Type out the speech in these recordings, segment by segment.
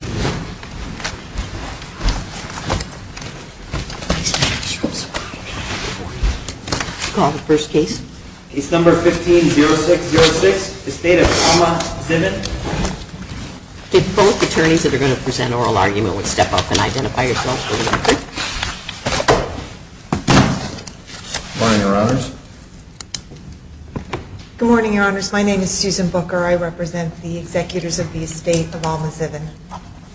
Good morning, your honors. My name is Susan Booker. I represent the executors of the estate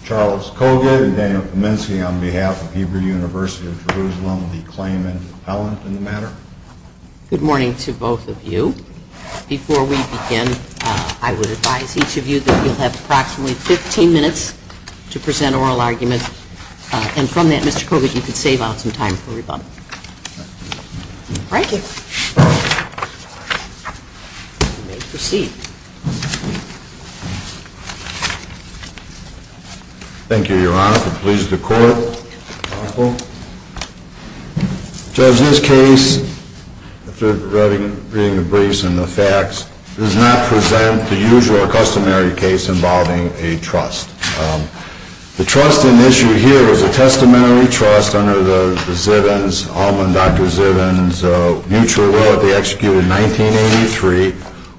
Charles Kogut and Daniel Kaminsky on behalf of Hebrew University of Jerusalem, the claimant and the appellant in the matter. Good morning to both of you. Before we begin, I would advise each of you that you'll have approximately 15 minutes to present oral arguments. And from that, Mr. Kogut, you can save out some time for rebuttal. Thank you. You may proceed. Thank you, your honor. If it pleases the court. Judge, this case, after reading the briefs and the facts, does not present the usual customary case involving a trust. The trust in issue here is a testamentary trust under the Zivin's, Alma and Dr. Zivin's mutual will that they executed in 1983,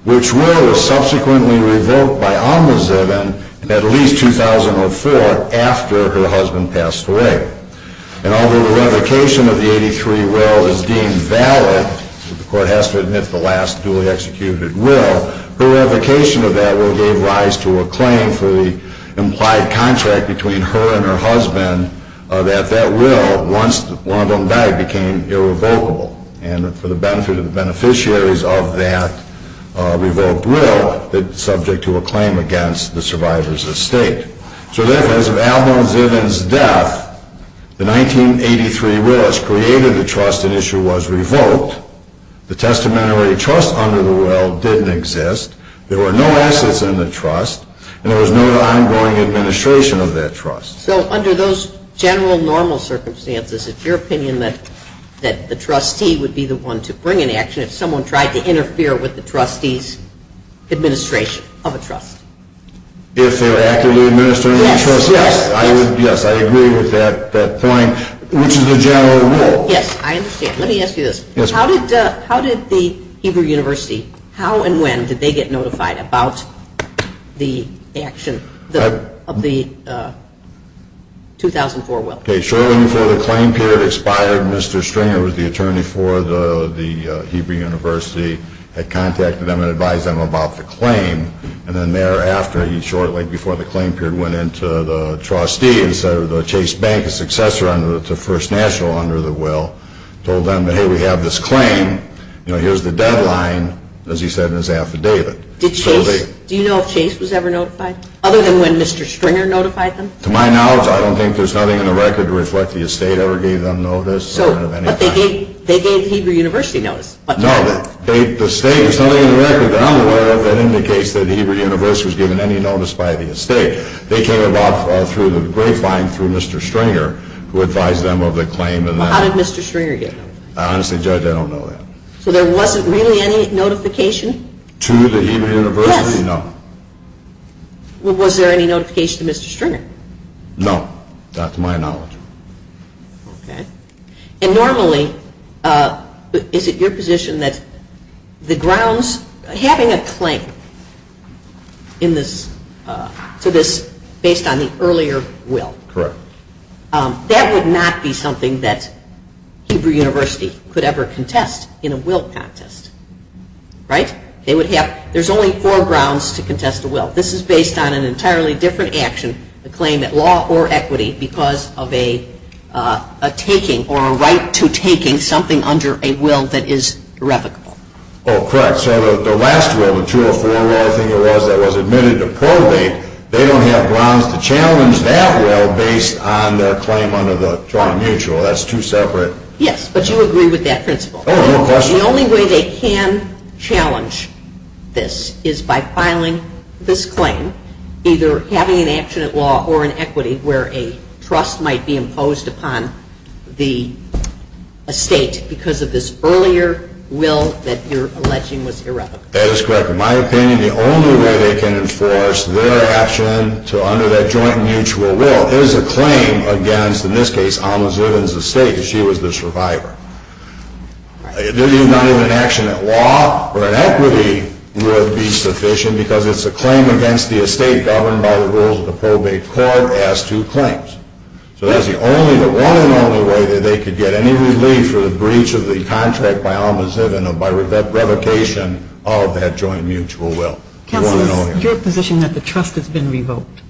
which will was subsequently revoked by Alma Zivin in at least 2004 after her husband passed away. And although the revocation of the 83 will is deemed valid, the court has to admit the last duly executed will, her revocation of that will gave rise to a claim for the implied contract between her and her husband that that will, once one of them died, became irrevocable. And for the benefit of the beneficiaries of that revoked will, it's subject to a claim against the survivors of the estate. So therefore, as of Alma Zivin's death, the 1983 will which created the trust in issue was revoked, the testamentary trust under the will didn't exist, there were no assets in the trust, and there was no ongoing administration of that trust. So under those general normal circumstances, it's your opinion that the trustee would be the one to bring an action if someone tried to interfere with the trustee's administration of a trust? If they were actively administering the trust? Yes. Yes, I agree with that point, which is the general rule. Yes, I understand. Let me ask you this. Yes, ma'am. How did the Hebrew University, how and when did they get notified about the action of the 2004 will? Shortly before the claim period expired, Mr. Stringer, who was the attorney for the Hebrew University, had contacted them and advised them about the claim. And then thereafter, shortly before the claim period went into the trustee, Chase Bank, a successor to First National under the will, told them, hey, we have this claim, here's the deadline, as he said in his affidavit. Did Chase, do you know if Chase was ever notified? Other than when Mr. Stringer notified them? To my knowledge, I don't think there's nothing in the record to reflect the estate ever gave them notice. But they gave the Hebrew University notice. No, the estate, there's nothing in the record that I'm aware of that indicates that the Hebrew University was given any notice by the estate. They came about through the grapevine through Mr. Stringer, who advised them of the claim. How did Mr. Stringer get notified? Honestly, Judge, I don't know that. So there wasn't really any notification? To the Hebrew University? Yes. No. Well, was there any notification to Mr. Stringer? No. Not to my knowledge. Okay. And normally, is it your position that the grounds, having a claim in this, to this, based on the earlier will? Correct. That would not be something that Hebrew University could ever contest in a will contest, right? There's only four grounds to contest a will. This is based on an entirely different action, a claim at law or equity, because of a taking or a right to taking something under a will that is irrevocable. Oh, correct. So the last will, the 204 will, I think it was, that was admitted to probate, they don't have grounds to challenge that will based on their claim under the trauma mutual. That's two separate… Yes, but you agree with that principle. Oh, no question. The only way they can challenge this is by filing this claim, either having an action at law or an equity where a trust might be imposed upon the estate because of this earlier will that you're alleging was irrevocable. That is correct. In my opinion, the only way they can enforce their action under that joint mutual will is a claim against, in this case, Alma Zubin's estate because she was the survivor. If they do not have an action at law or an equity, it would be sufficient because it's a claim against the estate governed by the rules of the probate court as two claims. So that's the only, the one and only way that they could get any relief for the breach of the contract by Alma Zubin or by revocation of that joint mutual will. Counsel, it's your position that the trust has been revoked.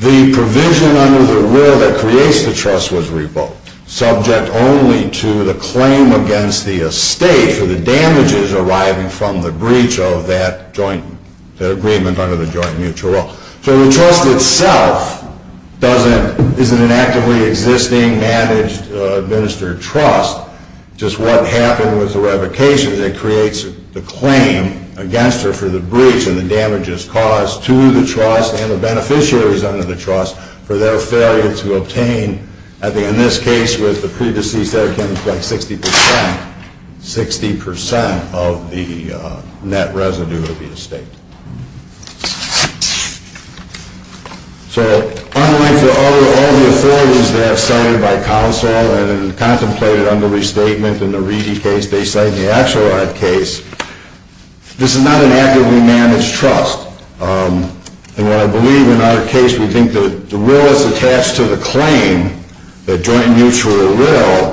The provision under the will that creates the trust was revoked, subject only to the claim against the estate for the damages arriving from the breach of that joint, that agreement under the joint mutual will. So the trust itself doesn't, is an inactively existing, managed, administered trust. Just what happened with the revocation that creates the claim against her for the breach and the damages caused to the trust and the beneficiaries under the trust for their failure to obtain, I think in this case with the pre-deceased, that account was like 60%, 60% of the net residue of the estate. So unlike the other, all the authorities that have cited by counsel and contemplated under restatement in the Reedy case, they cite in the Axelrod case, this is not an actively managed trust. And what I believe in our case, we think that the will is attached to the claim, the joint mutual will,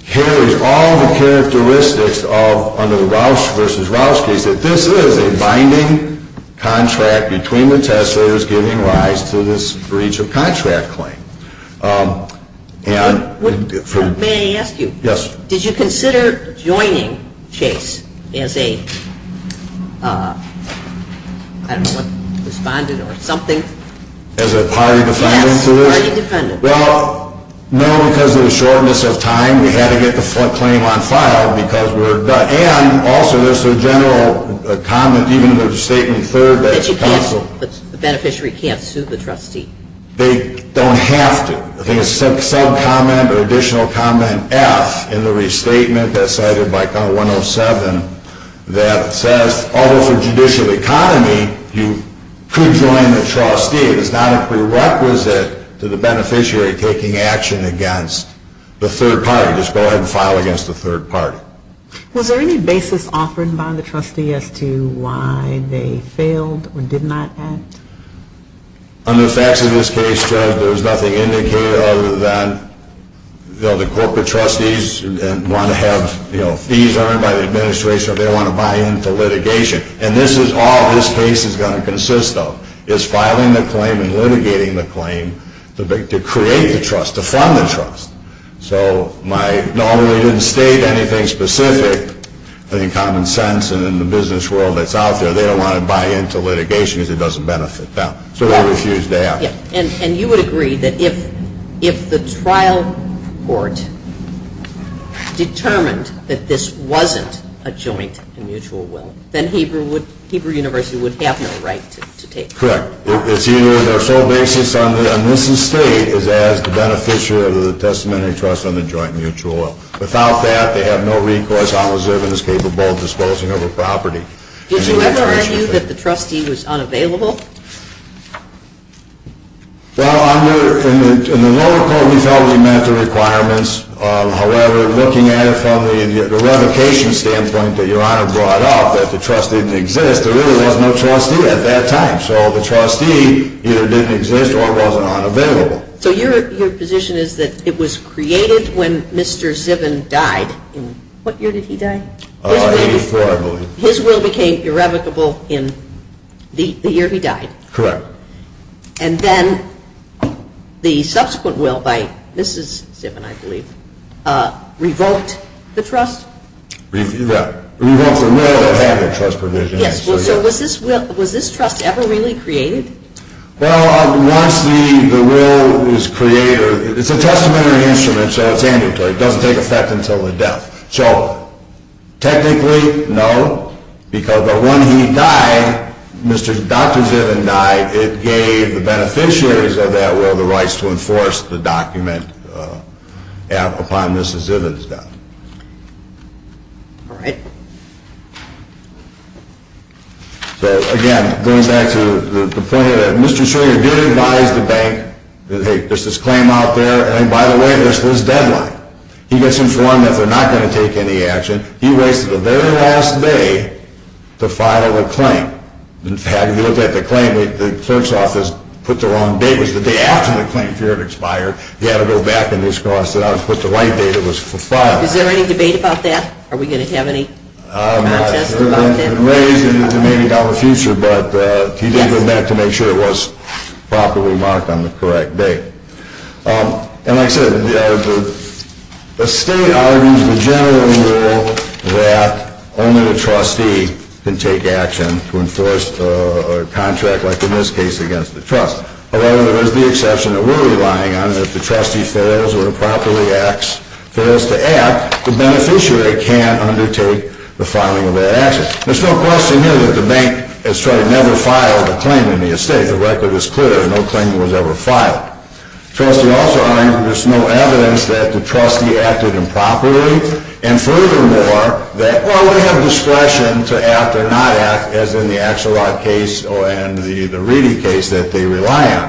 carries all the characteristics of, under the Rausch v. Rausch case, that this is a binding contract between the testers giving rise to this breach of contract claim. May I ask you? Yes. Did you consider joining Chase as a, I don't know what, respondent or something? As a party defendant? Yes, party defendant. Well, no, because of the shortness of time, we had to get the claim on file because we were done. And also, there's a general comment even in the statement third that counsel The beneficiary can't sue the trustee. They don't have to. I think it's a sub-comment or additional comment F in the restatement that's cited by count 107 that says, although for judicial economy, you could join the trustee. It is not a prerequisite to the beneficiary taking action against the third party. Just go ahead and file against the third party. Was there any basis offered by the trustee as to why they failed or did not act? Under the facts of this case, Judge, there is nothing indicated other than the corporate trustees want to have fees earned by the administration or they want to buy into litigation. And this is all this case is going to consist of, is filing the claim and litigating the claim to create the trust, to fund the trust. So I normally didn't state anything specific. But in common sense and in the business world that's out there, they don't want to buy into litigation because it doesn't benefit them. So they refused to act. And you would agree that if the trial court determined that this wasn't a joint and mutual will, then Hebrew University would have no right to take part? Correct. It's either their sole basis on this estate is as the beneficiary of the testamentary trust on the joint mutual will. Without that, they have no recourse. I'll reserve it as capable of disposing of a property. Did you ever argue that the trustee was unavailable? Well, in the lower court, we felt we met the requirements. However, looking at it from the revocation standpoint that Your Honor brought up, that the trust didn't exist, there really was no trustee at that time. So the trustee either didn't exist or wasn't available. So your position is that it was created when Mr. Zivin died? What year did he die? 1984, I believe. His will became irrevocable in the year he died? Correct. And then the subsequent will by Mrs. Zivin, I believe, revoked the trust? Revoked the will that had the trust provision. Yes. So was this trust ever really created? Well, once the will is created, it's a testamentary instrument, so it's ambulatory. It doesn't take effect until the death. So technically, no, because when he died, Dr. Zivin died, it gave the beneficiaries of that will the rights to enforce the document upon Mrs. Zivin's death. All right. So, again, going back to the point that Mr. Schroeder did advise the bank that, hey, there's this claim out there, and by the way, there's this deadline. He gets informed that they're not going to take any action. He waits until the very last day to file a claim. In fact, if you look at the claim, the clerk's office put the wrong date. It was the day after the claim period expired. He had to go back and he crossed it out and put the right date. It was filed. Is there any debate about that? Are we going to have any contest about that? It's been raised, and maybe not in the future, but he did go back to make sure it was properly marked on the correct date. And like I said, the state argues the general rule that only the trustee can take action to enforce a contract, like in this case, against the trust. However, there is the exception that we're relying on. If the trustee fails or improperly acts, fails to act, the beneficiary can't undertake the filing of that action. There's no question here that the bank has tried to never file a claim in the estate. The record is clear. No claim was ever filed. The trustee also argues there's no evidence that the trustee acted improperly, and furthermore, that, well, they have discretion to act or not act, as in the Axelrod case and the Reedy case that they rely on.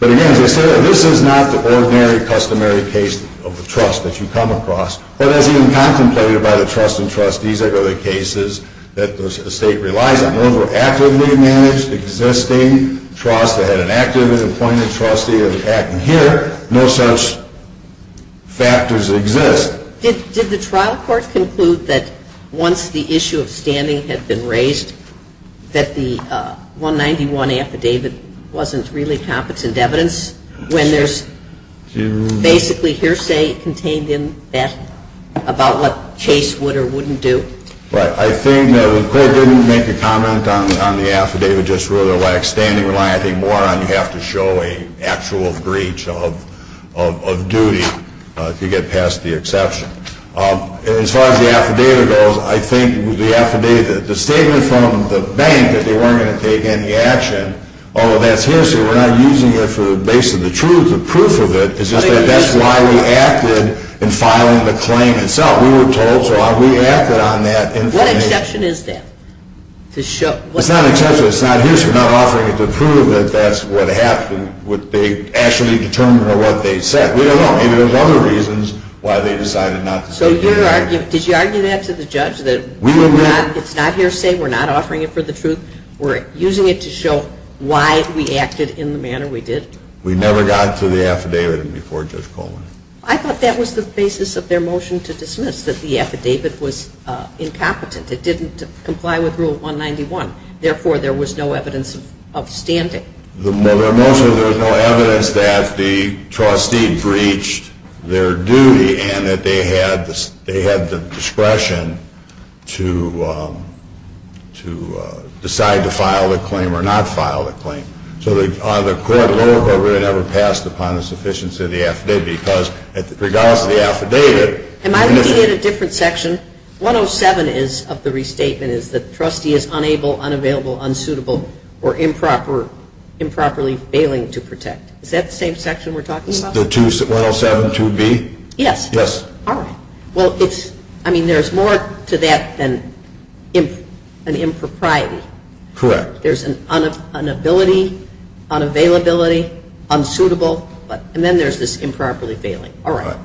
But again, as I said, this is not the ordinary, customary case of the trust that you come across. But as even contemplated by the trust and trustees, there are other cases that the estate relies on. Those were actively managed, existing trusts that had an active and appointed trustee acting here. No such factors exist. Did the trial court conclude that once the issue of standing had been raised, that the 191 affidavit wasn't really competent evidence, when there's basically hearsay contained in that about what case would or wouldn't do? Right. I think that the court didn't make a comment on the affidavit just whether it lacks standing. You have to show an actual breach of duty to get past the exception. As far as the affidavit goes, I think the affidavit, the statement from the bank that they weren't going to take any action, although that's hearsay, we're not using it for the base of the truth. The proof of it is just that that's why we acted in filing the claim itself. We were told, so we acted on that. What exception is that? It's not an exception. It's not hearsay. We're not offering it to prove that that's what happened, what they actually determined or what they said. We don't know. Maybe there's other reasons why they decided not to take any action. Did you argue that to the judge, that it's not hearsay, we're not offering it for the truth, we're using it to show why we acted in the manner we did? We never got to the affidavit before Judge Coleman. I thought that was the basis of their motion to dismiss, that the affidavit was incompetent. It didn't comply with Rule 191. Therefore, there was no evidence of standing. The motion, there was no evidence that the trustee breached their duty and that they had the discretion to decide to file the claim or not file the claim. So the court, lower court, really never passed upon the sufficiency of the affidavit because regardless of the affidavit. Am I looking at a different section? 107 of the restatement is that the trustee is unable, unavailable, unsuitable, or improperly failing to protect. Is that the same section we're talking about? The 107-2B? Yes. All right. Well, I mean, there's more to that than an impropriety. Correct. There's an inability, unavailability, unsuitable, and then there's this improperly failing. All right.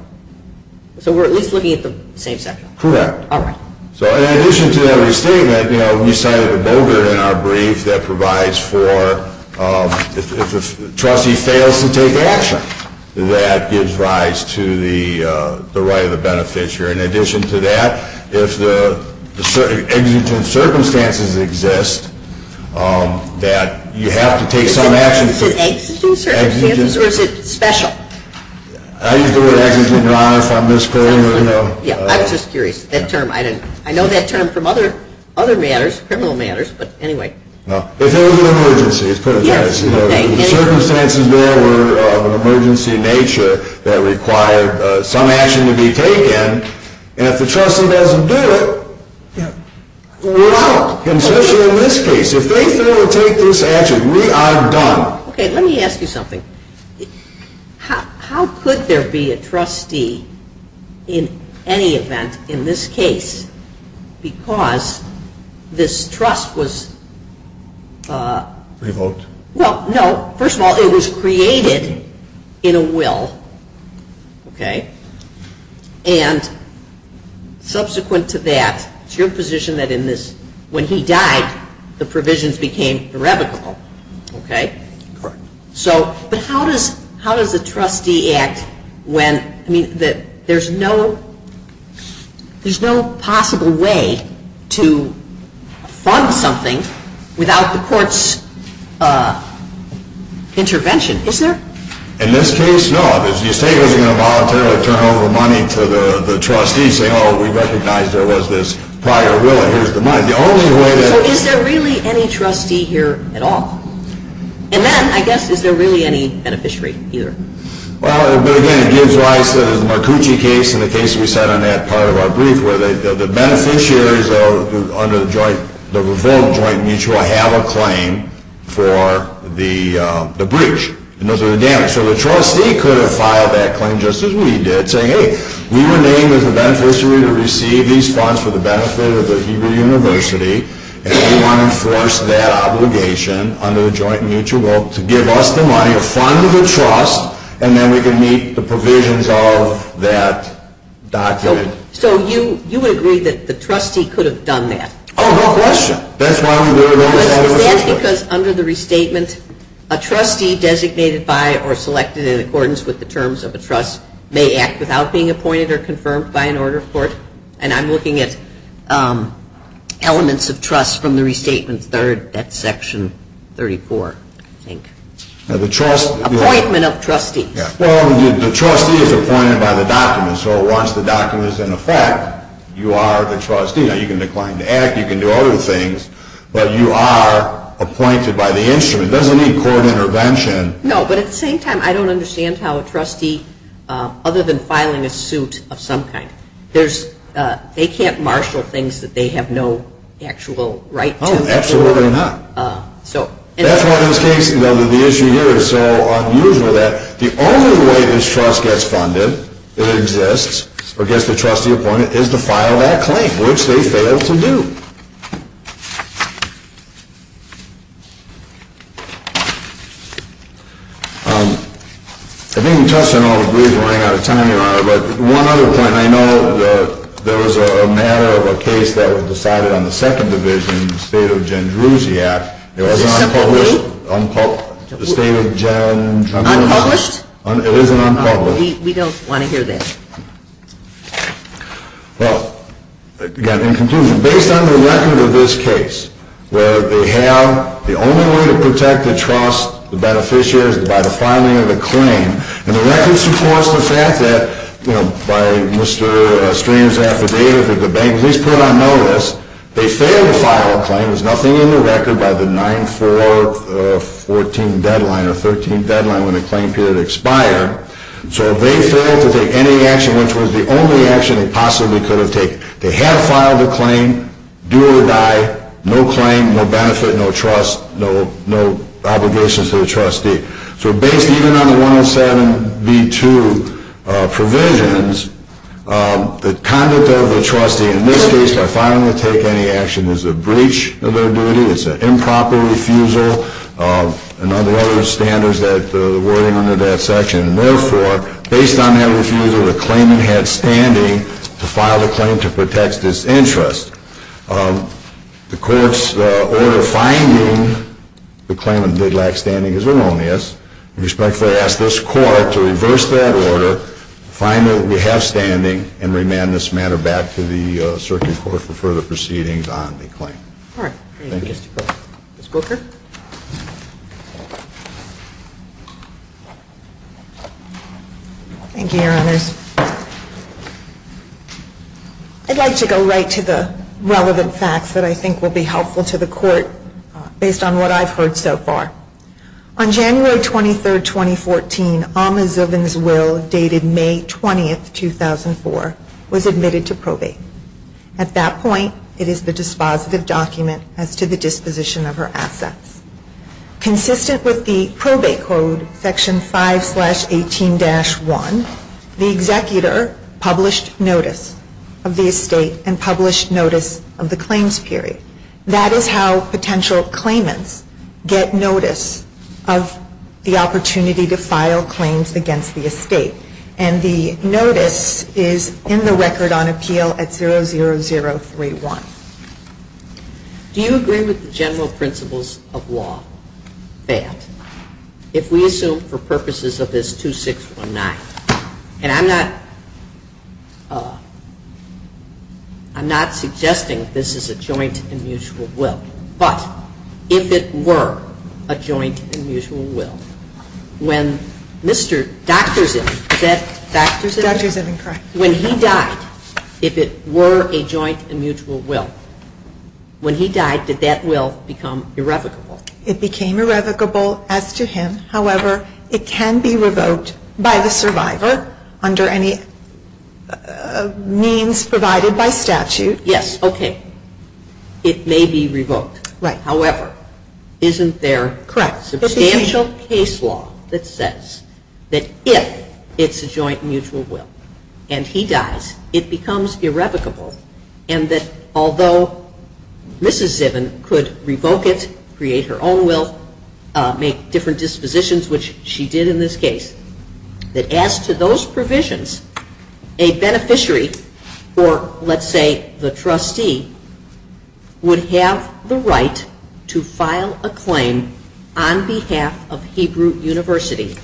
So we're at least looking at the same section. Correct. All right. So in addition to that restatement, you know, we cited Bogert in our brief that provides for if a trustee fails to take action, that gives rise to the right of the beneficiary. In addition to that, if the exigent circumstances exist, that you have to take some action. Is it exigent circumstances or is it special? I use the word exigent, Your Honor, if I'm mispronouncing it. Yeah, I was just curious. That term, I know that term from other matters, criminal matters, but anyway. If there was an emergency, let's put it that way. Yes, okay. If the circumstances there were of an emergency in nature that required some action to be taken, and if the trustee doesn't do it, we're out. Especially in this case. If they fail to take this action, we are done. Okay, let me ask you something. How could there be a trustee in any event in this case because this trust was? Revoked. Well, no. First of all, it was created in a will, okay? And subsequent to that, it's your position that in this, when he died, the provisions became irrevocable, okay? Correct. So, but how does a trustee act when, I mean, there's no possible way to fund something without the court's intervention, is there? In this case, no. If the estate isn't going to voluntarily turn over money to the trustee saying, oh, we recognize there was this prior will and here's the money. The only way that. So is there really any trustee here at all? And then, I guess, is there really any beneficiary either? Well, but again, it gives rise to the Marcucci case and the case we said on that part of our brief where the beneficiaries under the joint, the revoked joint mutual have a claim for the breach. And those are the damages. So the trustee could have filed that claim just as we did saying, hey, we were named as the beneficiary to receive these funds for the benefit of the Hebrew University and we want to enforce that obligation under the joint mutual to give us the money, to fund the trust, and then we can meet the provisions of that document. So you would agree that the trustee could have done that? Oh, no question. That's why we would have. Is that because under the restatement, a trustee designated by or selected in accordance with the terms of a trust may act without being appointed or confirmed by an order of court? And I'm looking at elements of trust from the restatement third, that's section 34, I think. Appointment of trustees. Well, the trustee is appointed by the document. So once the document is in effect, you are the trustee. Now, you can decline to act. You can do other things. But you are appointed by the instrument. It doesn't need court intervention. No, but at the same time, I don't understand how a trustee, other than filing a suit of some kind, they can't marshal things that they have no actual right to. Oh, absolutely not. That's why in this case, the issue here is so unusual that the only way this trust gets funded, it exists, or gets the trustee appointed, is to file that claim, which they failed to do. I think we touched on all the briefs. We're running out of time, Your Honor. But one other point. I know that there was a matter of a case that was decided on the second division, the State of Jandruzzi Act. It was unpublished. Is this separate? The State of Jandruzzi Act. Unpublished? It isn't unpublished. We don't want to hear this. Well, again, in conclusion, based on the record of this case, where they have the only way to protect the trust, the beneficiaries, is by the filing of the claim. And the record supports the fact that, you know, by Mr. Stringer's affidavit, if the bank at least put it on notice, they failed to file a claim. There's nothing in the record by the 9-4-14 deadline or 13 deadline when the claim period expired. So if they failed to take any action, which was the only action they possibly could have taken, they had to file the claim, do or die, no claim, no benefit, no trust, no obligations to the trustee. So based even on the 107B2 provisions, the conduct of the trustee, in this case, by filing to take any action is a breach of their duty. It's an improper refusal. And there are other standards at the wording under that section. And therefore, based on that refusal, the claimant had standing to file a claim to protect this interest. The court's order finding the claimant did lack standing is erroneous. We respectfully ask this court to reverse that order, find that we have standing, and remand this matter back to the circuit court for further proceedings on the claim. All right. Thank you. Ms. Booker. Thank you, Your Honors. I'd like to go right to the relevant facts that I think will be helpful to the court based on what I've heard so far. On January 23, 2014, Ahmad Zubin's will, dated May 20, 2004, was admitted to probate. At that point, it is the dispositive document as to the disposition of her assets. Consistent with the probate code, Section 5-18-1, the executor published notice of the estate and published notice of the claims period. That is how potential claimants get notice of the opportunity to file claims against the estate. And the notice is in the Record on Appeal at 00031. Do you agree with the general principles of law that if we assume for purposes of this 2619, and I'm not suggesting this is a joint and mutual will, but if it were a joint and mutual will, when Mr. Dr. Zubin, is that Dr. Zubin? Dr. Zubin, correct. When he died, if it were a joint and mutual will, when he died, did that will become irrevocable? It became irrevocable as to him. However, it can be revoked by the survivor under any means provided by statute. Yes. Okay. It may be revoked. Right. However, isn't there substantial case? There is a case law that says that if it's a joint and mutual will and he dies, it becomes irrevocable and that although Mrs. Zubin could revoke it, create her own will, make different dispositions, which she did in this case, that as to those provisions, a beneficiary or let's say the trustee would have the right to file a claim on behalf of Hebrew University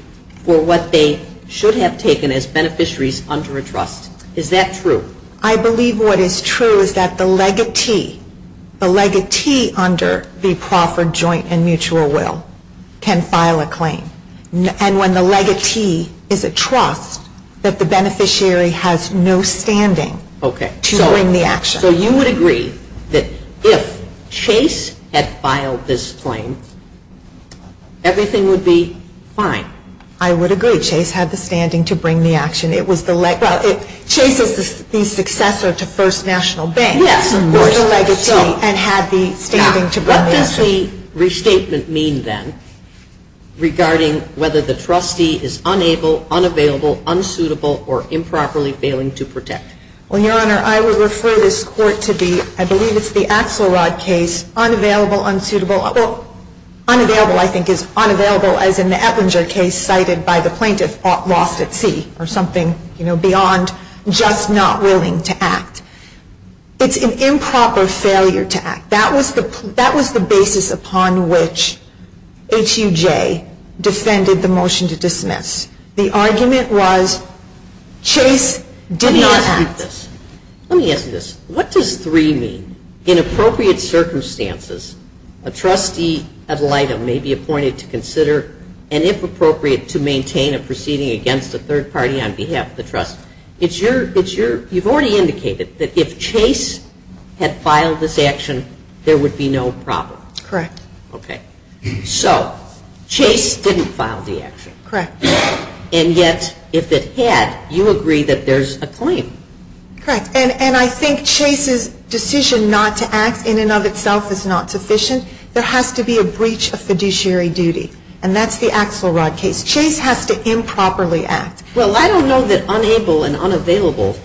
for what they should have taken as beneficiaries under a trust. Is that true? I believe what is true is that the legatee, the legatee under the proffered joint and mutual will can file a claim. And when the legatee is a trust, that the beneficiary has no standing to bring the action. So you would agree that if Chase had filed this claim, everything would be fine? I would agree. Chase had the standing to bring the action. It was the legatee. Chase is the successor to First National Bank. Yes, of course. Who is the legatee and had the standing to bring the action. Now, what does the restatement mean then regarding whether the trustee is unable, unavailable, unsuitable, or improperly failing to protect? Well, Your Honor, I would refer this court to the, I believe it's the Axelrod case, unavailable, unsuitable, well, unavailable I think is unavailable as in the Eplinger case cited by the plaintiff lost at sea or something beyond just not willing to act. It's an improper failure to act. That was the basis upon which HUJ defended the motion to dismiss. The argument was Chase did not act. Let me ask you this. Let me ask you this. What does 3 mean? In appropriate circumstances, a trustee ad litem may be appointed to consider and if appropriate to maintain a proceeding against a third party on behalf of the trust. It's your, it's your, you've already indicated that if Chase had filed this action, there would be no problem. Correct. Okay. So Chase didn't file the action. Correct. And yet if it had, you agree that there's a claim. Correct. And I think Chase's decision not to act in and of itself is not sufficient. There has to be a breach of fiduciary duty, and that's the Axelrod case. Chase has to improperly act. Well, I don't know that unable and unavailable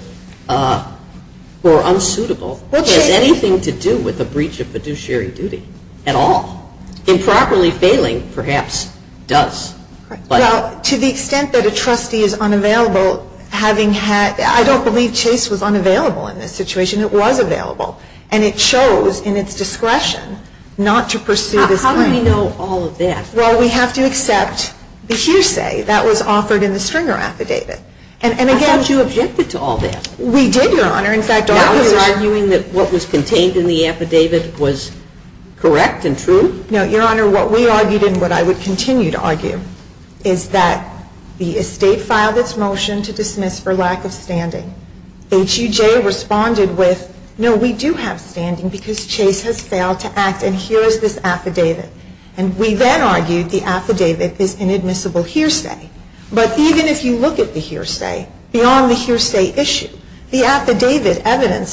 or unsuitable has anything to do with a breach of fiduciary duty at all. Improperly failing perhaps does. Well, to the extent that a trustee is unavailable, having had, I don't believe Chase was unavailable in this situation. It was available. And it shows in its discretion not to pursue this claim. How do we know all of that? Well, we have to accept the hearsay that was offered in the Stringer affidavit. And again. I thought you objected to all that. We did, Your Honor. In fact, all of us are arguing that what was contained in the affidavit was correct and true. No, Your Honor. What we argued and what I would continue to argue is that the estate filed its motion to dismiss for lack of standing. HUJ responded with, no, we do have standing because Chase has failed to act and here is this affidavit. And we then argued the affidavit is inadmissible hearsay. But even if you look at the hearsay, beyond the hearsay issue, the affidavit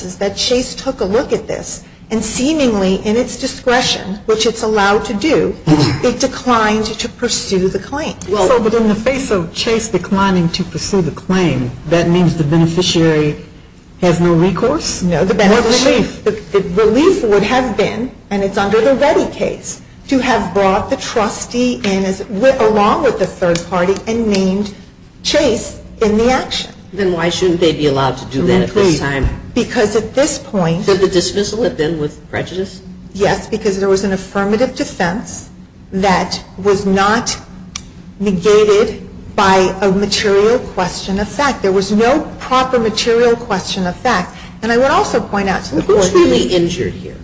is that Chase took a look at this and seemingly in its discretion which it's allowed to do, it declined to pursue the claim. Well, but in the face of Chase declining to pursue the claim, that means the beneficiary has no recourse? No. No relief. The relief would have been and it's under the Ready case to have brought the trustee in along with the third party and named Chase in the action. Then why shouldn't they be allowed to do that at this time? Because at this point Did the dismissal have been with prejudice? Yes, because there was an affirmative defense that was not negated by a material question of fact. There was no proper material question of fact. And I would also point out to the court Who's really injured here?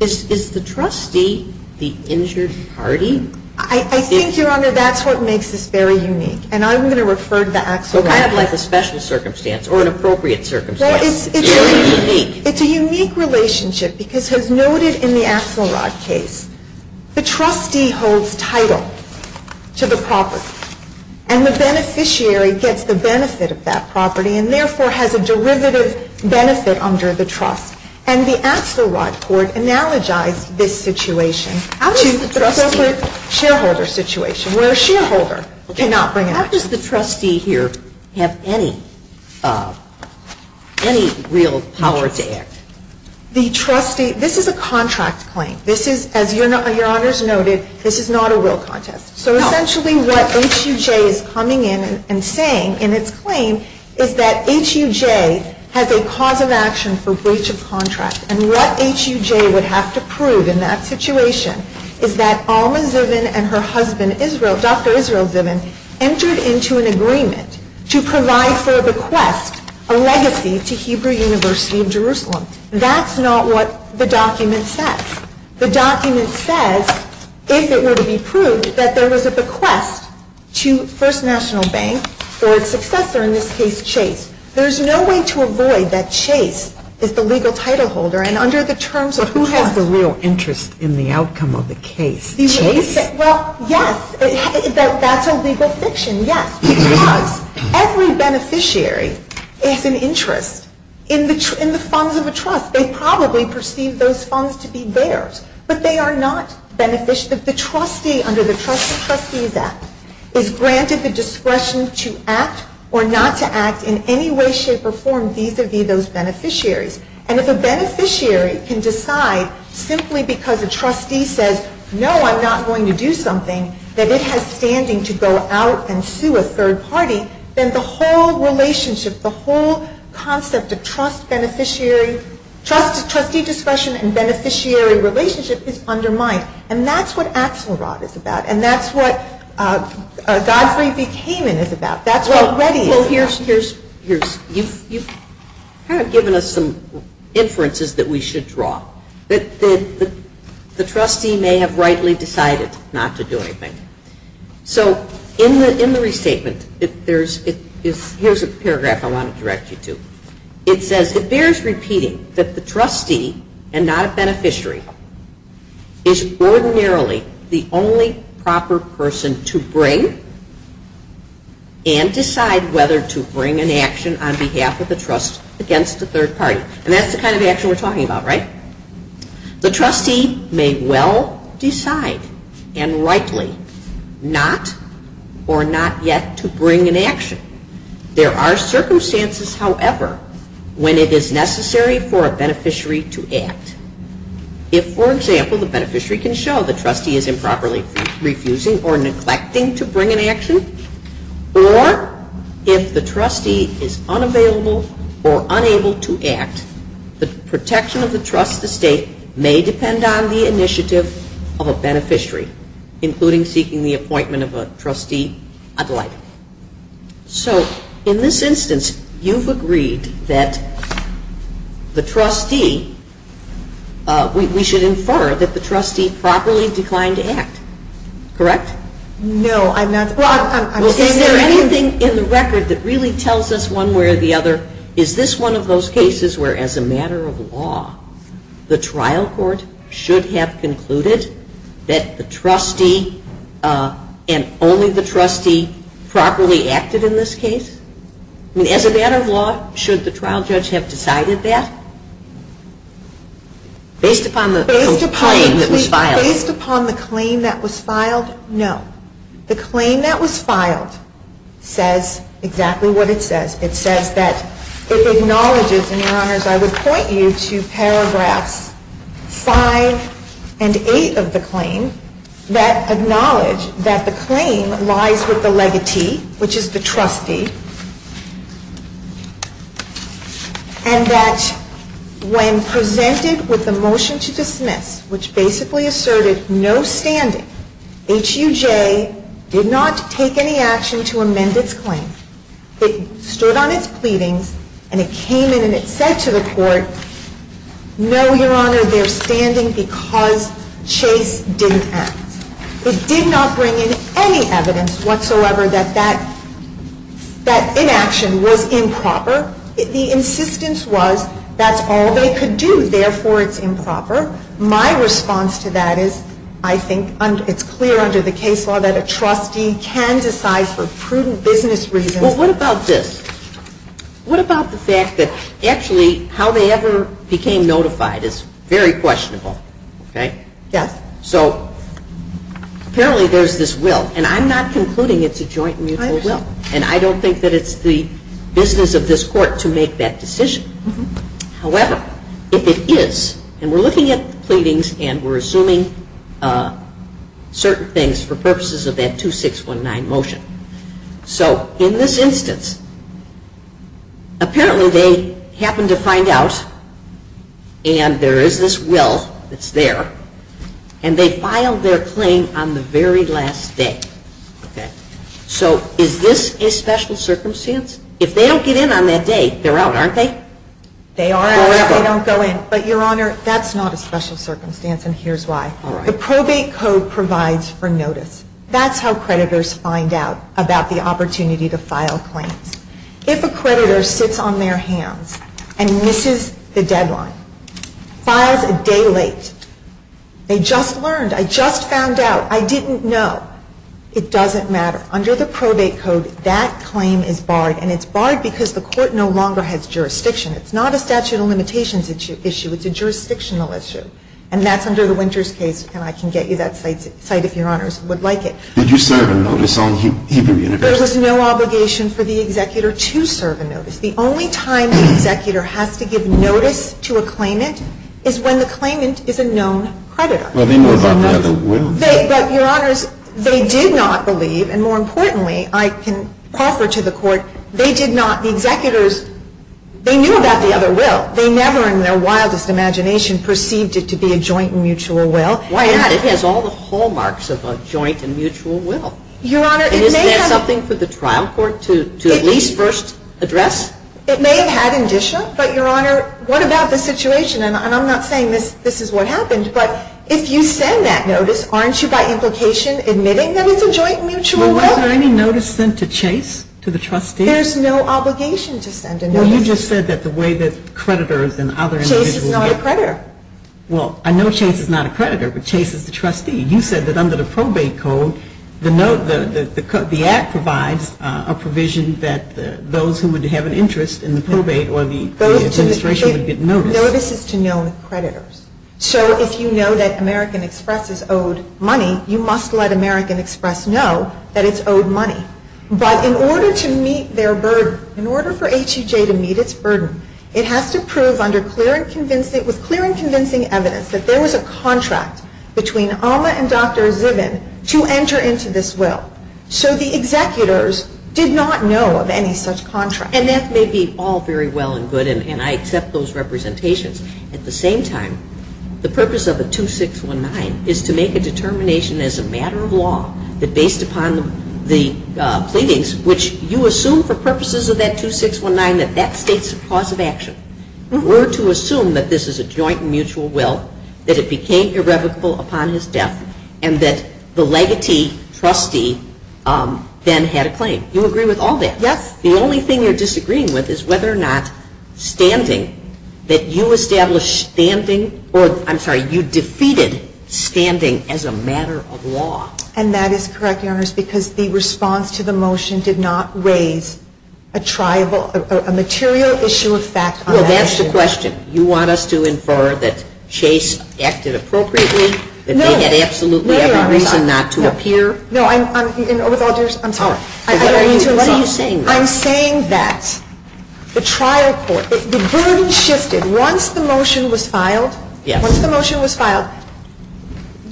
Is the trustee the injured party? I think, Your Honor, that's what makes this very unique. And I'm going to refer to the actual So kind of like a special circumstance or an appropriate circumstance Well, it's a unique relationship because as noted in the Axelrod case, the trustee holds title to the property, and the beneficiary gets the benefit of that property and therefore has a derivative benefit under the trust. And the Axelrod court analogized this situation to the corporate shareholder situation where a shareholder cannot bring action. How does the trustee here have any real power to act? This is a contract claim. As Your Honor has noted, this is not a real contest. So essentially what HUJ is coming in and saying in its claim is that HUJ has a cause of action for breach of contract. And what HUJ would have to prove in that situation is that Alma Zivin and her husband, Dr. Israel Zivin, entered into an agreement to provide for a bequest, a legacy to Hebrew University of Jerusalem. That's not what the document says. The document says, if it were to be proved, that there was a bequest to First National Bank for its successor, in this case Chase. There's no way to avoid that Chase is the legal title holder, and under the terms of the bequest there's no interest in the outcome of the case. Chase? Well, yes. That's a legal fiction, yes. Because every beneficiary has an interest in the funds of a trust. They probably perceive those funds to be theirs. But they are not beneficiaries. The trustee under the Trust of Trustees Act is granted the discretion to act or not to act in any way, shape, or form vis-à-vis those beneficiaries. And if a beneficiary can decide simply because a trustee says, no, I'm not going to do something, that it has standing to go out and sue a third party, then the whole relationship, the whole concept of trust, beneficiary, trustee discretion and beneficiary relationship is undermined. And that's what Axelrod is about. And that's what Godfrey B. Kamin is about. That's what Reddy is about. So you've kind of given us some inferences that we should draw. The trustee may have rightly decided not to do anything. So in the restatement, here's a paragraph I want to direct you to. It says, it bears repeating that the trustee and not a beneficiary is ordinarily the only proper person to bring and decide whether to bring an action on behalf of the trust against a third party. And that's the kind of action we're talking about, right? The trustee may well decide and rightly not or not yet to bring an action. There are circumstances, however, when it is necessary for a beneficiary to act. If, for example, the beneficiary can show the trustee is improperly refusing or neglecting to bring an action, or if the trustee is unavailable or unable to act, the protection of the trust estate may depend on the initiative of a beneficiary, including seeking the appointment of a trustee ad lait. So in this instance, you've agreed that the trustee, we should infer that the trustee properly declined to act, correct? No, I'm not. Well, is there anything in the record that really tells us one way or the other, is this one of those cases where, as a matter of law, the trial court should have concluded that the trustee and only the trustee properly acted in this case? I mean, as a matter of law, should the trial judge have decided that? Based upon the claim that was filed? Based upon the claim that was filed, no. The claim that was filed says exactly what it says. It says that it acknowledges, and, Your Honors, I would point you to paragraphs 5 and 8 of the claim that acknowledge that the claim lies with the legatee, which is the trustee, and that when presented with the motion to dismiss, which basically asserted no standing, HUJ did not take any action to amend its claim. It stood on its pleadings, and it came in and it said to the court, No, Your Honor, they're standing because Chase didn't act. It did not bring in any evidence whatsoever that that inaction was improper. The insistence was that's all they could do, therefore it's improper. My response to that is I think it's clear under the case law that a trustee can decide for prudent business reasons. Well, what about this? I think that actually how they ever became notified is very questionable, okay? Yes. So apparently there's this will, and I'm not concluding it's a joint and mutual will, and I don't think that it's the business of this court to make that decision. However, if it is, and we're looking at the pleadings and we're assuming certain things for purposes of that 2619 motion. So in this instance, apparently they happened to find out, and there is this will that's there, and they filed their claim on the very last day. So is this a special circumstance? If they don't get in on that day, they're out, aren't they? They are out if they don't go in. But, Your Honor, that's not a special circumstance, and here's why. The probate code provides for notice. That's how creditors find out about the opportunity to file claims. If a creditor sits on their hands and misses the deadline, files a day late, they just learned, I just found out, I didn't know, it doesn't matter. Under the probate code, that claim is barred, and it's barred because the court no longer has jurisdiction. It's not a statute of limitations issue. It's a jurisdictional issue, and that's under the Winters case, and I can get you that site if Your Honors would like it. Did you serve a notice on Hebrew University? There was no obligation for the executor to serve a notice. The only time the executor has to give notice to a claimant is when the claimant is a known creditor. Well, they know about the other will. But, Your Honors, they did not believe, and more importantly, I can offer to the Court, they did not, the executors, they knew about the other will. They never in their wildest imagination perceived it to be a joint mutual will. Why not? It has all the hallmarks of a joint and mutual will. Your Honor, it may have... And isn't that something for the trial court to at least first address? It may have had indicia, but Your Honor, what about the situation, and I'm not saying this is what happened, but if you send that notice, aren't you by implication admitting that it's a joint mutual will? Was there any notice sent to Chase to the trustees? There's no obligation to send a notice. Well, you just said that the way that creditors and other individuals... Chase is not a creditor. Well, I know Chase is not a creditor, but Chase is the trustee. You said that under the probate code, the act provides a provision that those who would have an interest in the probate or the administration would get notice. Notice is to known creditors. So if you know that American Express is owed money, you must let American Express know that it's owed money. But in order to meet their burden, in order for HEJ to meet its burden, it has to prove under clear and convincing evidence that there was a contract between Alma and Dr. Zivin to enter into this will. So the executors did not know of any such contract. And that may be all very well and good, and I accept those representations. At the same time, the purpose of a 2619 is to make a determination as a matter of law that based upon the pleadings, which you assume for purposes of that 2619 that that states a cause of action, were to assume that this is a joint and mutual will, that it became irrevocable upon his death, and that the legatee, trustee, then had a claim. You agree with all that? Yes. The only thing you're disagreeing with is whether or not standing, that you established standing or, I'm sorry, you defeated standing as a matter of law. And that is correct, Your Honors, because the response to the motion did not raise a material issue of fact on that issue. Well, that's the question. You want us to infer that Chase acted appropriately? No. That they had absolutely every reason not to appear? No, Your Honors. I'm sorry. What are you saying? I'm saying that the trial court, the burden shifted. Once the motion was filed,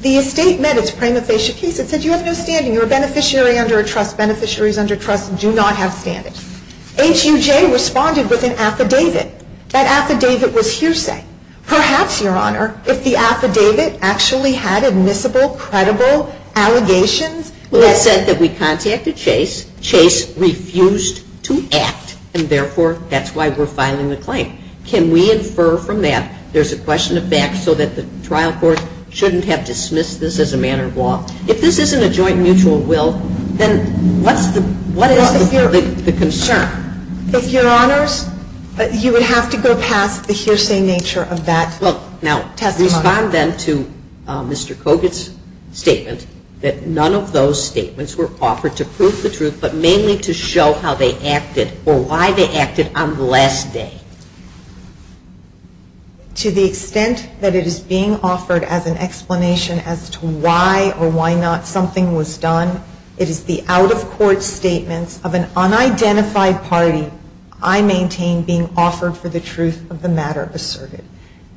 the estate met its prima facie case. It said you have no standing. You're a beneficiary under a trust. You do not have standing. HUJ responded with an affidavit. That affidavit was hearsay. Perhaps, Your Honor, if the affidavit actually had admissible, credible allegations? Well, it said that we contacted Chase. Chase refused to act, and therefore, that's why we're filing the claim. Can we infer from that there's a question of fact so that the trial court shouldn't have dismissed this as a matter of law? If this isn't a joint mutual will, then what is the concern? If Your Honors, you would have to go past the hearsay nature of that testimony. Now, respond then to Mr. Kogut's statement that none of those statements were offered to prove the truth, but mainly to show how they acted or why they acted on the last day. To the extent that it is being offered as an explanation as to why or why not something was done, it is the out-of-court statements of an unidentified party I maintain being offered for the truth of the matter asserted.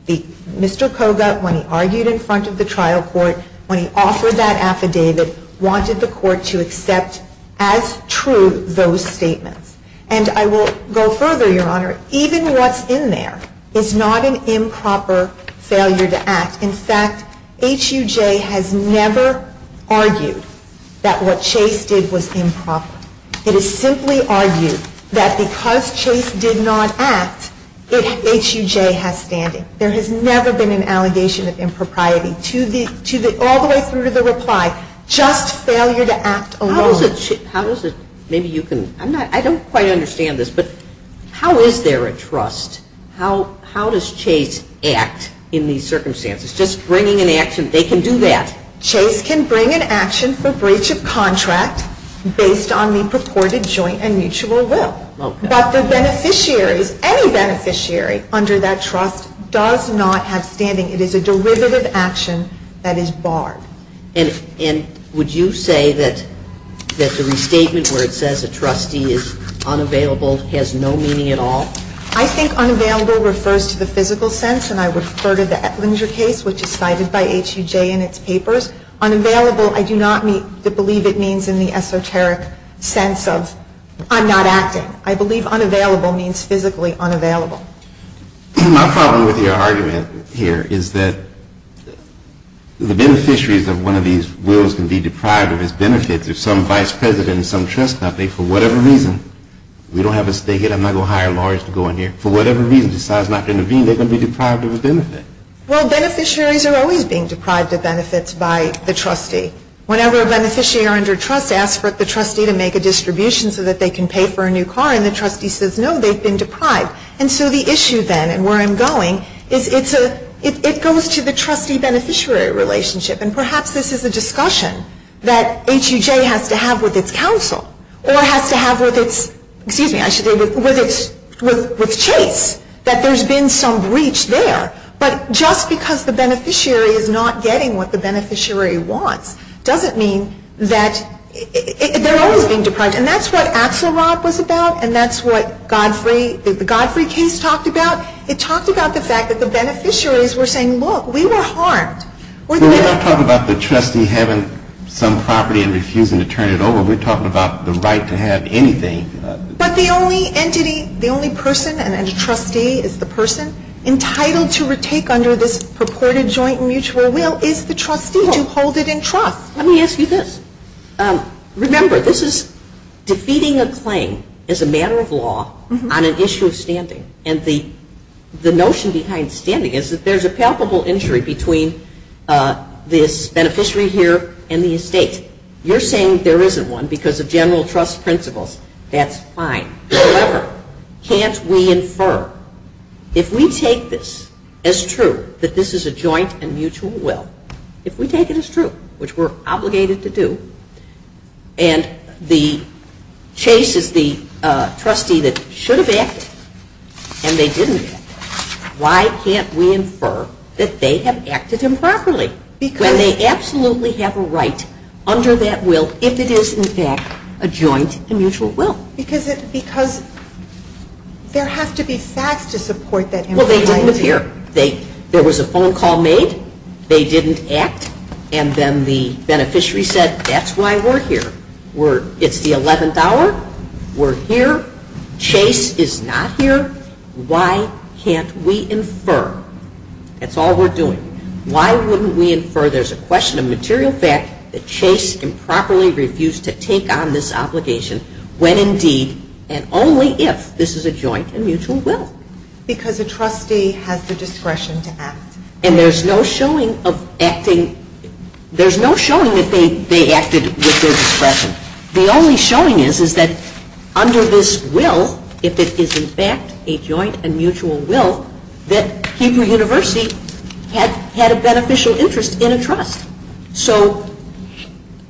Mr. Kogut, when he argued in front of the trial court, when he offered that affidavit, wanted the court to accept as true those statements. And I will go further, Your Honor. Even what's in there is not an improper failure to act. In fact, HUJ has never argued that what Chase did was improper. It is simply argued that because Chase did not act, HUJ has standing. There has never been an allegation of impropriety, all the way through to the reply, just failure to act alone. I don't quite understand this, but how is there a trust? How does Chase act in these circumstances? Just bringing an action, they can do that? Chase can bring an action for breach of contract based on the purported joint and mutual will. But the beneficiaries, any beneficiary under that trust does not have standing. It is a derivative action that is barred. And would you say that the restatement where it says a trustee is unavailable has no meaning at all? I think unavailable refers to the physical sense, and I refer to the Ettinger case, which is cited by HUJ in its papers. Unavailable, I do not believe it means in the esoteric sense of I'm not acting. I believe unavailable means physically unavailable. My problem with your argument here is that the beneficiaries of one of these wills can be deprived of its benefits if some vice president in some trust company, for whatever reason, we don't have a stake in it, I'm not going to hire lawyers to go in here, for whatever reason decides not to intervene, they're going to be deprived of a benefit. Well, beneficiaries are always being deprived of benefits by the trustee. Whenever a beneficiary under trust asks for the trustee to make a distribution so that they can pay for a new car, and the trustee says no, they've been deprived. And so the issue then, and where I'm going, is it's a, it goes to the trustee-beneficiary relationship. And perhaps this is a discussion that HUJ has to have with its counsel, or has to have with its, excuse me, I should say with its, with Chase, that there's been some breach there. But just because the beneficiary is not getting what the beneficiary wants doesn't mean that, they're always being deprived. And that's what Axelrod was about, and that's what Godfrey, the Godfrey case talked about. It talked about the fact that the beneficiaries were saying, look, we were harmed. Well, we're not talking about the trustee having some property and refusing to turn it over. We're talking about the right to have anything. But the only entity, the only person and trustee is the person entitled to retake under this purported joint mutual will is the trustee to hold it in trust. Let me ask you this. Remember, this is defeating a claim as a matter of law on an issue of standing. And the notion behind standing is that there's a palpable injury between this beneficiary here and the estate. You're saying there isn't one because of general trust principles. That's fine. However, can't we infer, if we take this as true, that this is a joint and mutual will, if we take it as true, which we're obligated to do, and the chase is the trustee that should have acted and they didn't act, why can't we infer that they have acted improperly when they absolutely have a right under that will if it is, in fact, a joint and mutual will? Because there have to be facts to support that. Well, they didn't appear. There was a phone call made. They didn't act. And then the beneficiary said, that's why we're here. It's the 11th hour. We're here. Chase is not here. Why can't we infer? That's all we're doing. Why wouldn't we infer there's a question of material fact that chase improperly refused to take on this obligation when indeed and only if this is a joint and mutual will? Because a trustee has the discretion to act. And there's no showing of acting. There's no showing that they acted with their discretion. The only showing is that under this will, if it is, in fact, a joint and mutual will, that Hebrew University had a beneficial interest in a trust. So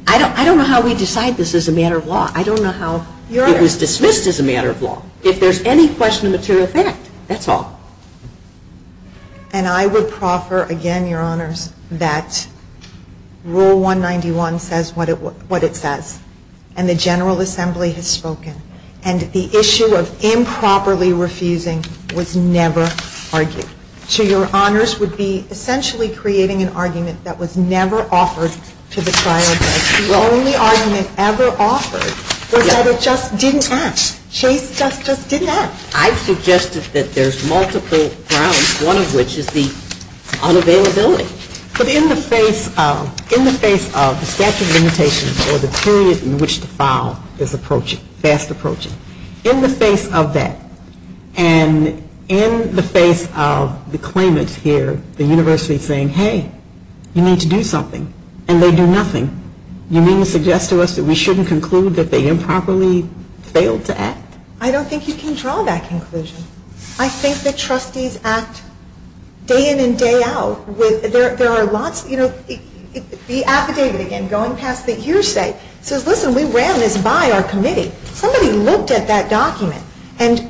I don't know how we decide this as a matter of law. I don't know how it was dismissed as a matter of law. If there's any question of material fact, that's all. And I would proffer, again, Your Honors, that Rule 191 says what it says. And the General Assembly has spoken. And the issue of improperly refusing was never argued. So Your Honors would be essentially creating an argument that was never offered to the trial judge. The only argument ever offered was that it just didn't act. Chase just didn't act. I've suggested that there's multiple grounds, one of which is the unavailability. But in the face of the statute of limitations or the period in which the file is approaching, fast approaching, in the face of that and in the face of the claimants here, the university saying, hey, you need to do something, and they do nothing, you mean to suggest to us that we shouldn't conclude that they improperly failed to act? I don't think you can draw that conclusion. I think that trustees act day in and day out. There are lots, you know, the affidavit, again, going past the hearsay, says, listen, we ran this by our committee. Somebody looked at that document. And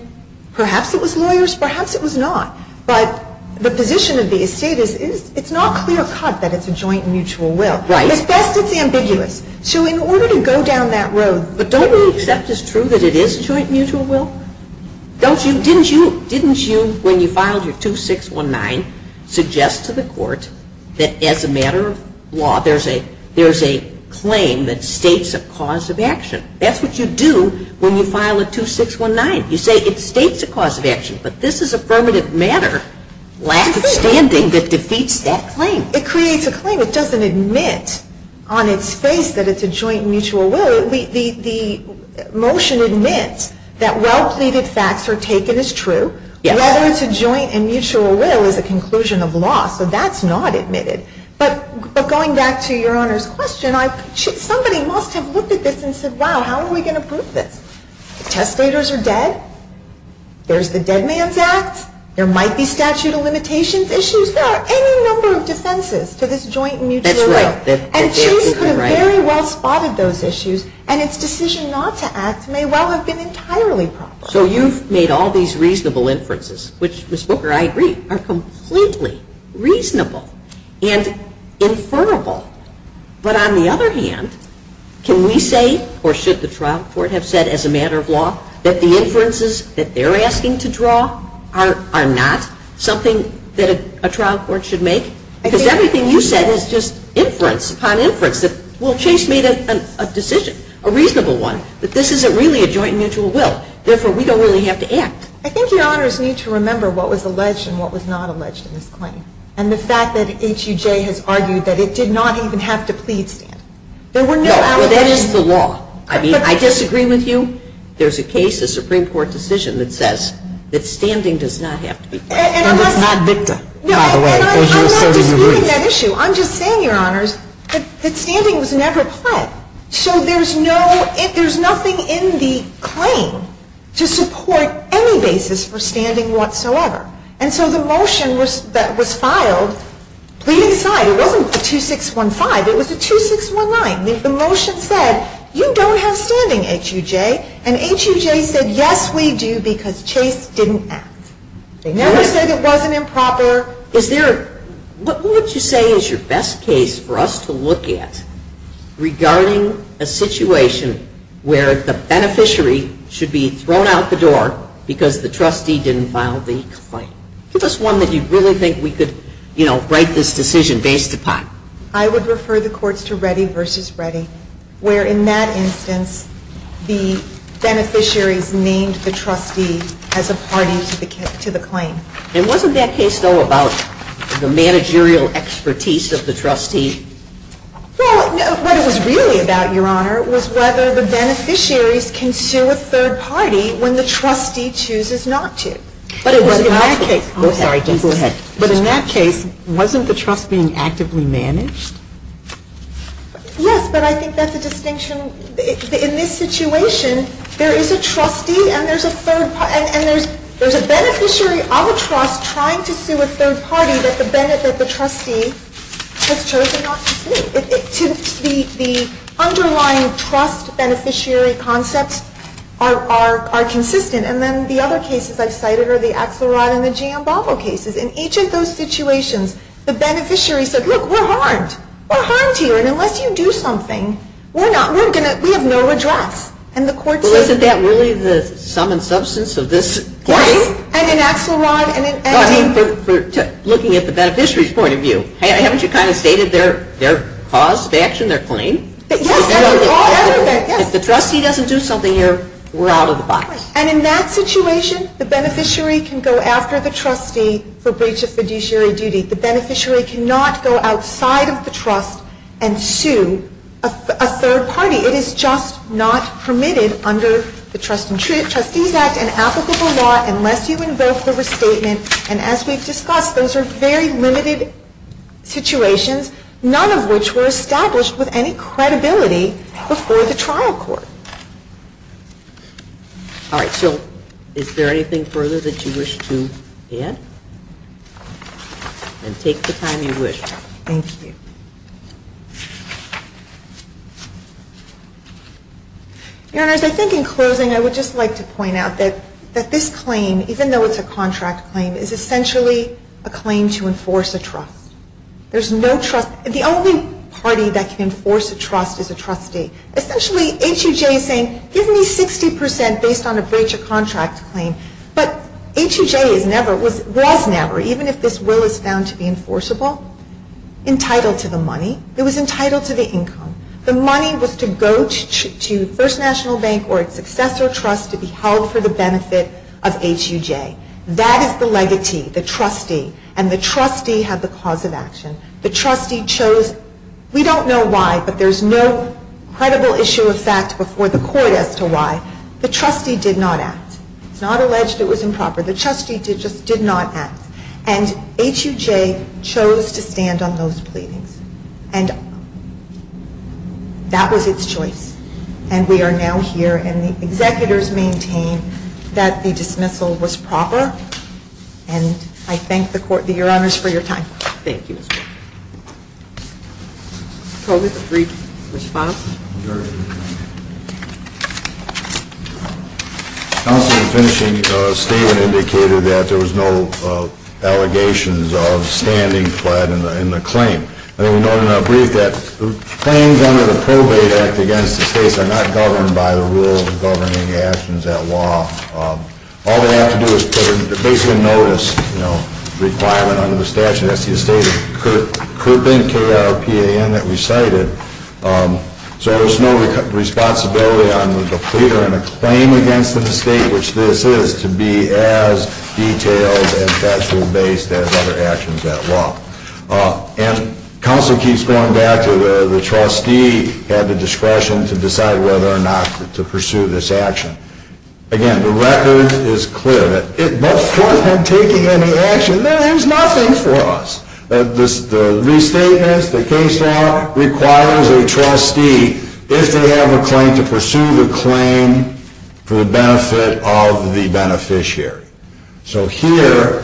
perhaps it was lawyers, perhaps it was not. But the position of the estate is it's not clear-cut that it's a joint mutual will. As best it's ambiguous. So in order to go down that road. But don't we accept as true that it is a joint mutual will? Didn't you, when you filed your 2619, suggest to the court that as a matter of law, there's a claim that states a cause of action? That's what you do when you file a 2619. You say it states a cause of action. But this is affirmative matter, last standing, that defeats that claim. It creates a claim. It doesn't admit on its face that it's a joint mutual will. The motion admits that well-pleaded facts are taken as true. Whether it's a joint and mutual will is a conclusion of law. So that's not admitted. But going back to your Honor's question, somebody must have looked at this and said, wow, how are we going to prove this? The testators are dead. There's the dead man's act. There might be statute of limitations issues. Is there any number of defenses to this joint mutual will? That's right. And states have very well spotted those issues, and its decision not to act may well have been entirely proper. So you've made all these reasonable inferences, which, Ms. Booker, I agree, are completely reasonable and inferable. But on the other hand, can we say, or should the trial court have said as a matter of law, that the inferences that they're asking to draw are not something that a trial court should make? Because everything you said is just inference upon inference. Well, Chase made a decision, a reasonable one, that this isn't really a joint mutual will. Therefore, we don't really have to act. I think Your Honors need to remember what was alleged and what was not alleged in this claim. And the fact that HUJ has argued that it did not even have to plead stand. No, well, that is the law. I mean, I disagree with you. There's a case, a Supreme Court decision, that says that standing does not have to be pledged. And it's not Victor, by the way, as you asserted in your brief. No, and I'm not disputing that issue. I'm just saying, Your Honors, that standing was never pledged. So there's no, there's nothing in the claim to support any basis for standing whatsoever. And so the motion that was filed, pleading aside, it wasn't a 2615. It was a 2619. The motion said, you don't have standing, HUJ. And HUJ said, yes, we do, because Chase didn't act. They never said it wasn't improper. Is there, what would you say is your best case for us to look at regarding a situation where the beneficiary should be thrown out the door because the trustee didn't file the complaint? Give us one that you really think we could, you know, write this decision based upon. I would refer the courts to Reddy v. Reddy, where in that instance, the beneficiaries named the trustee as a party to the claim. And wasn't that case, though, about the managerial expertise of the trustee? Well, what it was really about, Your Honor, was whether the beneficiaries can sue a third party when the trustee chooses not to. But in that case, wasn't the trust being actively managed? Yes, but I think that's a distinction. In this situation, there is a trustee and there's a third party, and there's a beneficiary of a trust trying to sue a third party that the trustee has chosen not to sue. The underlying trust beneficiary concepts are consistent. And then the other cases I've cited are the Axelrod and the Giambalvo cases. In each of those situations, the beneficiary said, look, we're harmed. We're harmed here. And unless you do something, we have no address. Well, isn't that really the sum and substance of this claim? Yes, and in Axelrod and in Giambalvo. Looking at the beneficiary's point of view, haven't you kind of stated their cause of action, their claim? Yes, everything. If the trustee doesn't do something here, we're out of the box. And in that situation, the beneficiary can go after the trustee for breach of fiduciary duty. The beneficiary cannot go outside of the trust and sue a third party. It is just not permitted under the Trustees Act and applicable law unless you invoke the restatement. And as we've discussed, those are very limited situations, none of which were established with any credibility before the trial court. All right, so is there anything further that you wish to add? Then take the time you wish. Thank you. Your Honors, I think in closing I would just like to point out that this claim, even though it's a contract claim, is essentially a claim to enforce a trust. There's no trust. The only party that can enforce a trust is a trustee. Essentially, HUJ is saying, give me 60% based on a breach of contract claim. But HUJ was never, even if this will is found to be enforceable, entitled to the money. It was entitled to the income. The money was to go to First National Bank or its successor trust to be held for the benefit of HUJ. That is the legatee, the trustee. And the trustee had the cause of action. The trustee chose, we don't know why, but there's no credible issue of fact before the court as to why. The trustee did not act. It's not alleged it was improper. The trustee just did not act. And HUJ chose to stand on those pleadings. And that was its choice. And we are now here and the executors maintain that the dismissal was proper. And I thank the court, your honors, for your time. Thank you. Mr. Colbert, a brief response? Sure. Counsel, your finishing statement indicated that there was no allegations of standing fled in the claim. I think we noted in our brief that claims under the Probate Act against the states are not governed by the rule of governing actions at law. All they have to do is put a basic notice requirement under the statute. That's the estate of Kirpin, K-R-P-A-N, that we cited. So there's no responsibility on the pleader in a claim against an estate, which this is, to be as detailed and factually based as other actions at law. And counsel keeps going back to the trustee had the discretion to decide whether or not to pursue this action. Again, the record is clear that it must force him taking any action. There is nothing for us. The restatements, the case law, requires a trustee, if they have a claim, to pursue the claim for the benefit of the beneficiary. So here,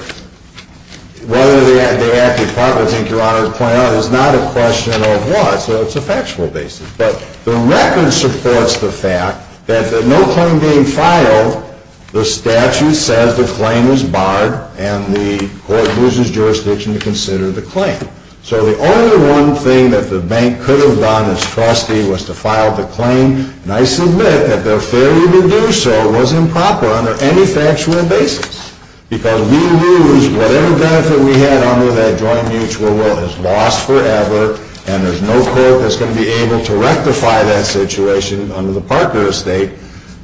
whether they acted properly, I think your honors pointed out, is not a question of what. So it's a factual basis. But the record supports the fact that the no claim being filed, the statute says the claim is barred and the court loses jurisdiction to consider the claim. So the only one thing that the bank could have done as trustee was to file the claim. And I submit that their failure to do so was improper under any factual basis. Because we lose whatever benefit we had under that joint mutual will is lost forever and there's no court that's going to be able to rectify that situation under the Parker estate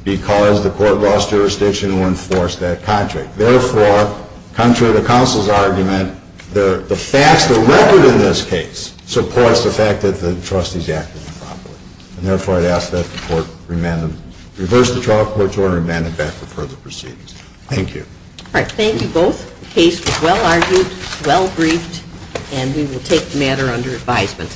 because the court lost jurisdiction to enforce that contract. Therefore, contrary to counsel's argument, the record in this case supports the fact that the trustee is acting improperly. And therefore, I'd ask that the court reverse the trial court's order and amend it back for further proceedings. Thank you. All right. Thank you both. The case was well argued, well briefed. And we will take the matter under advisement.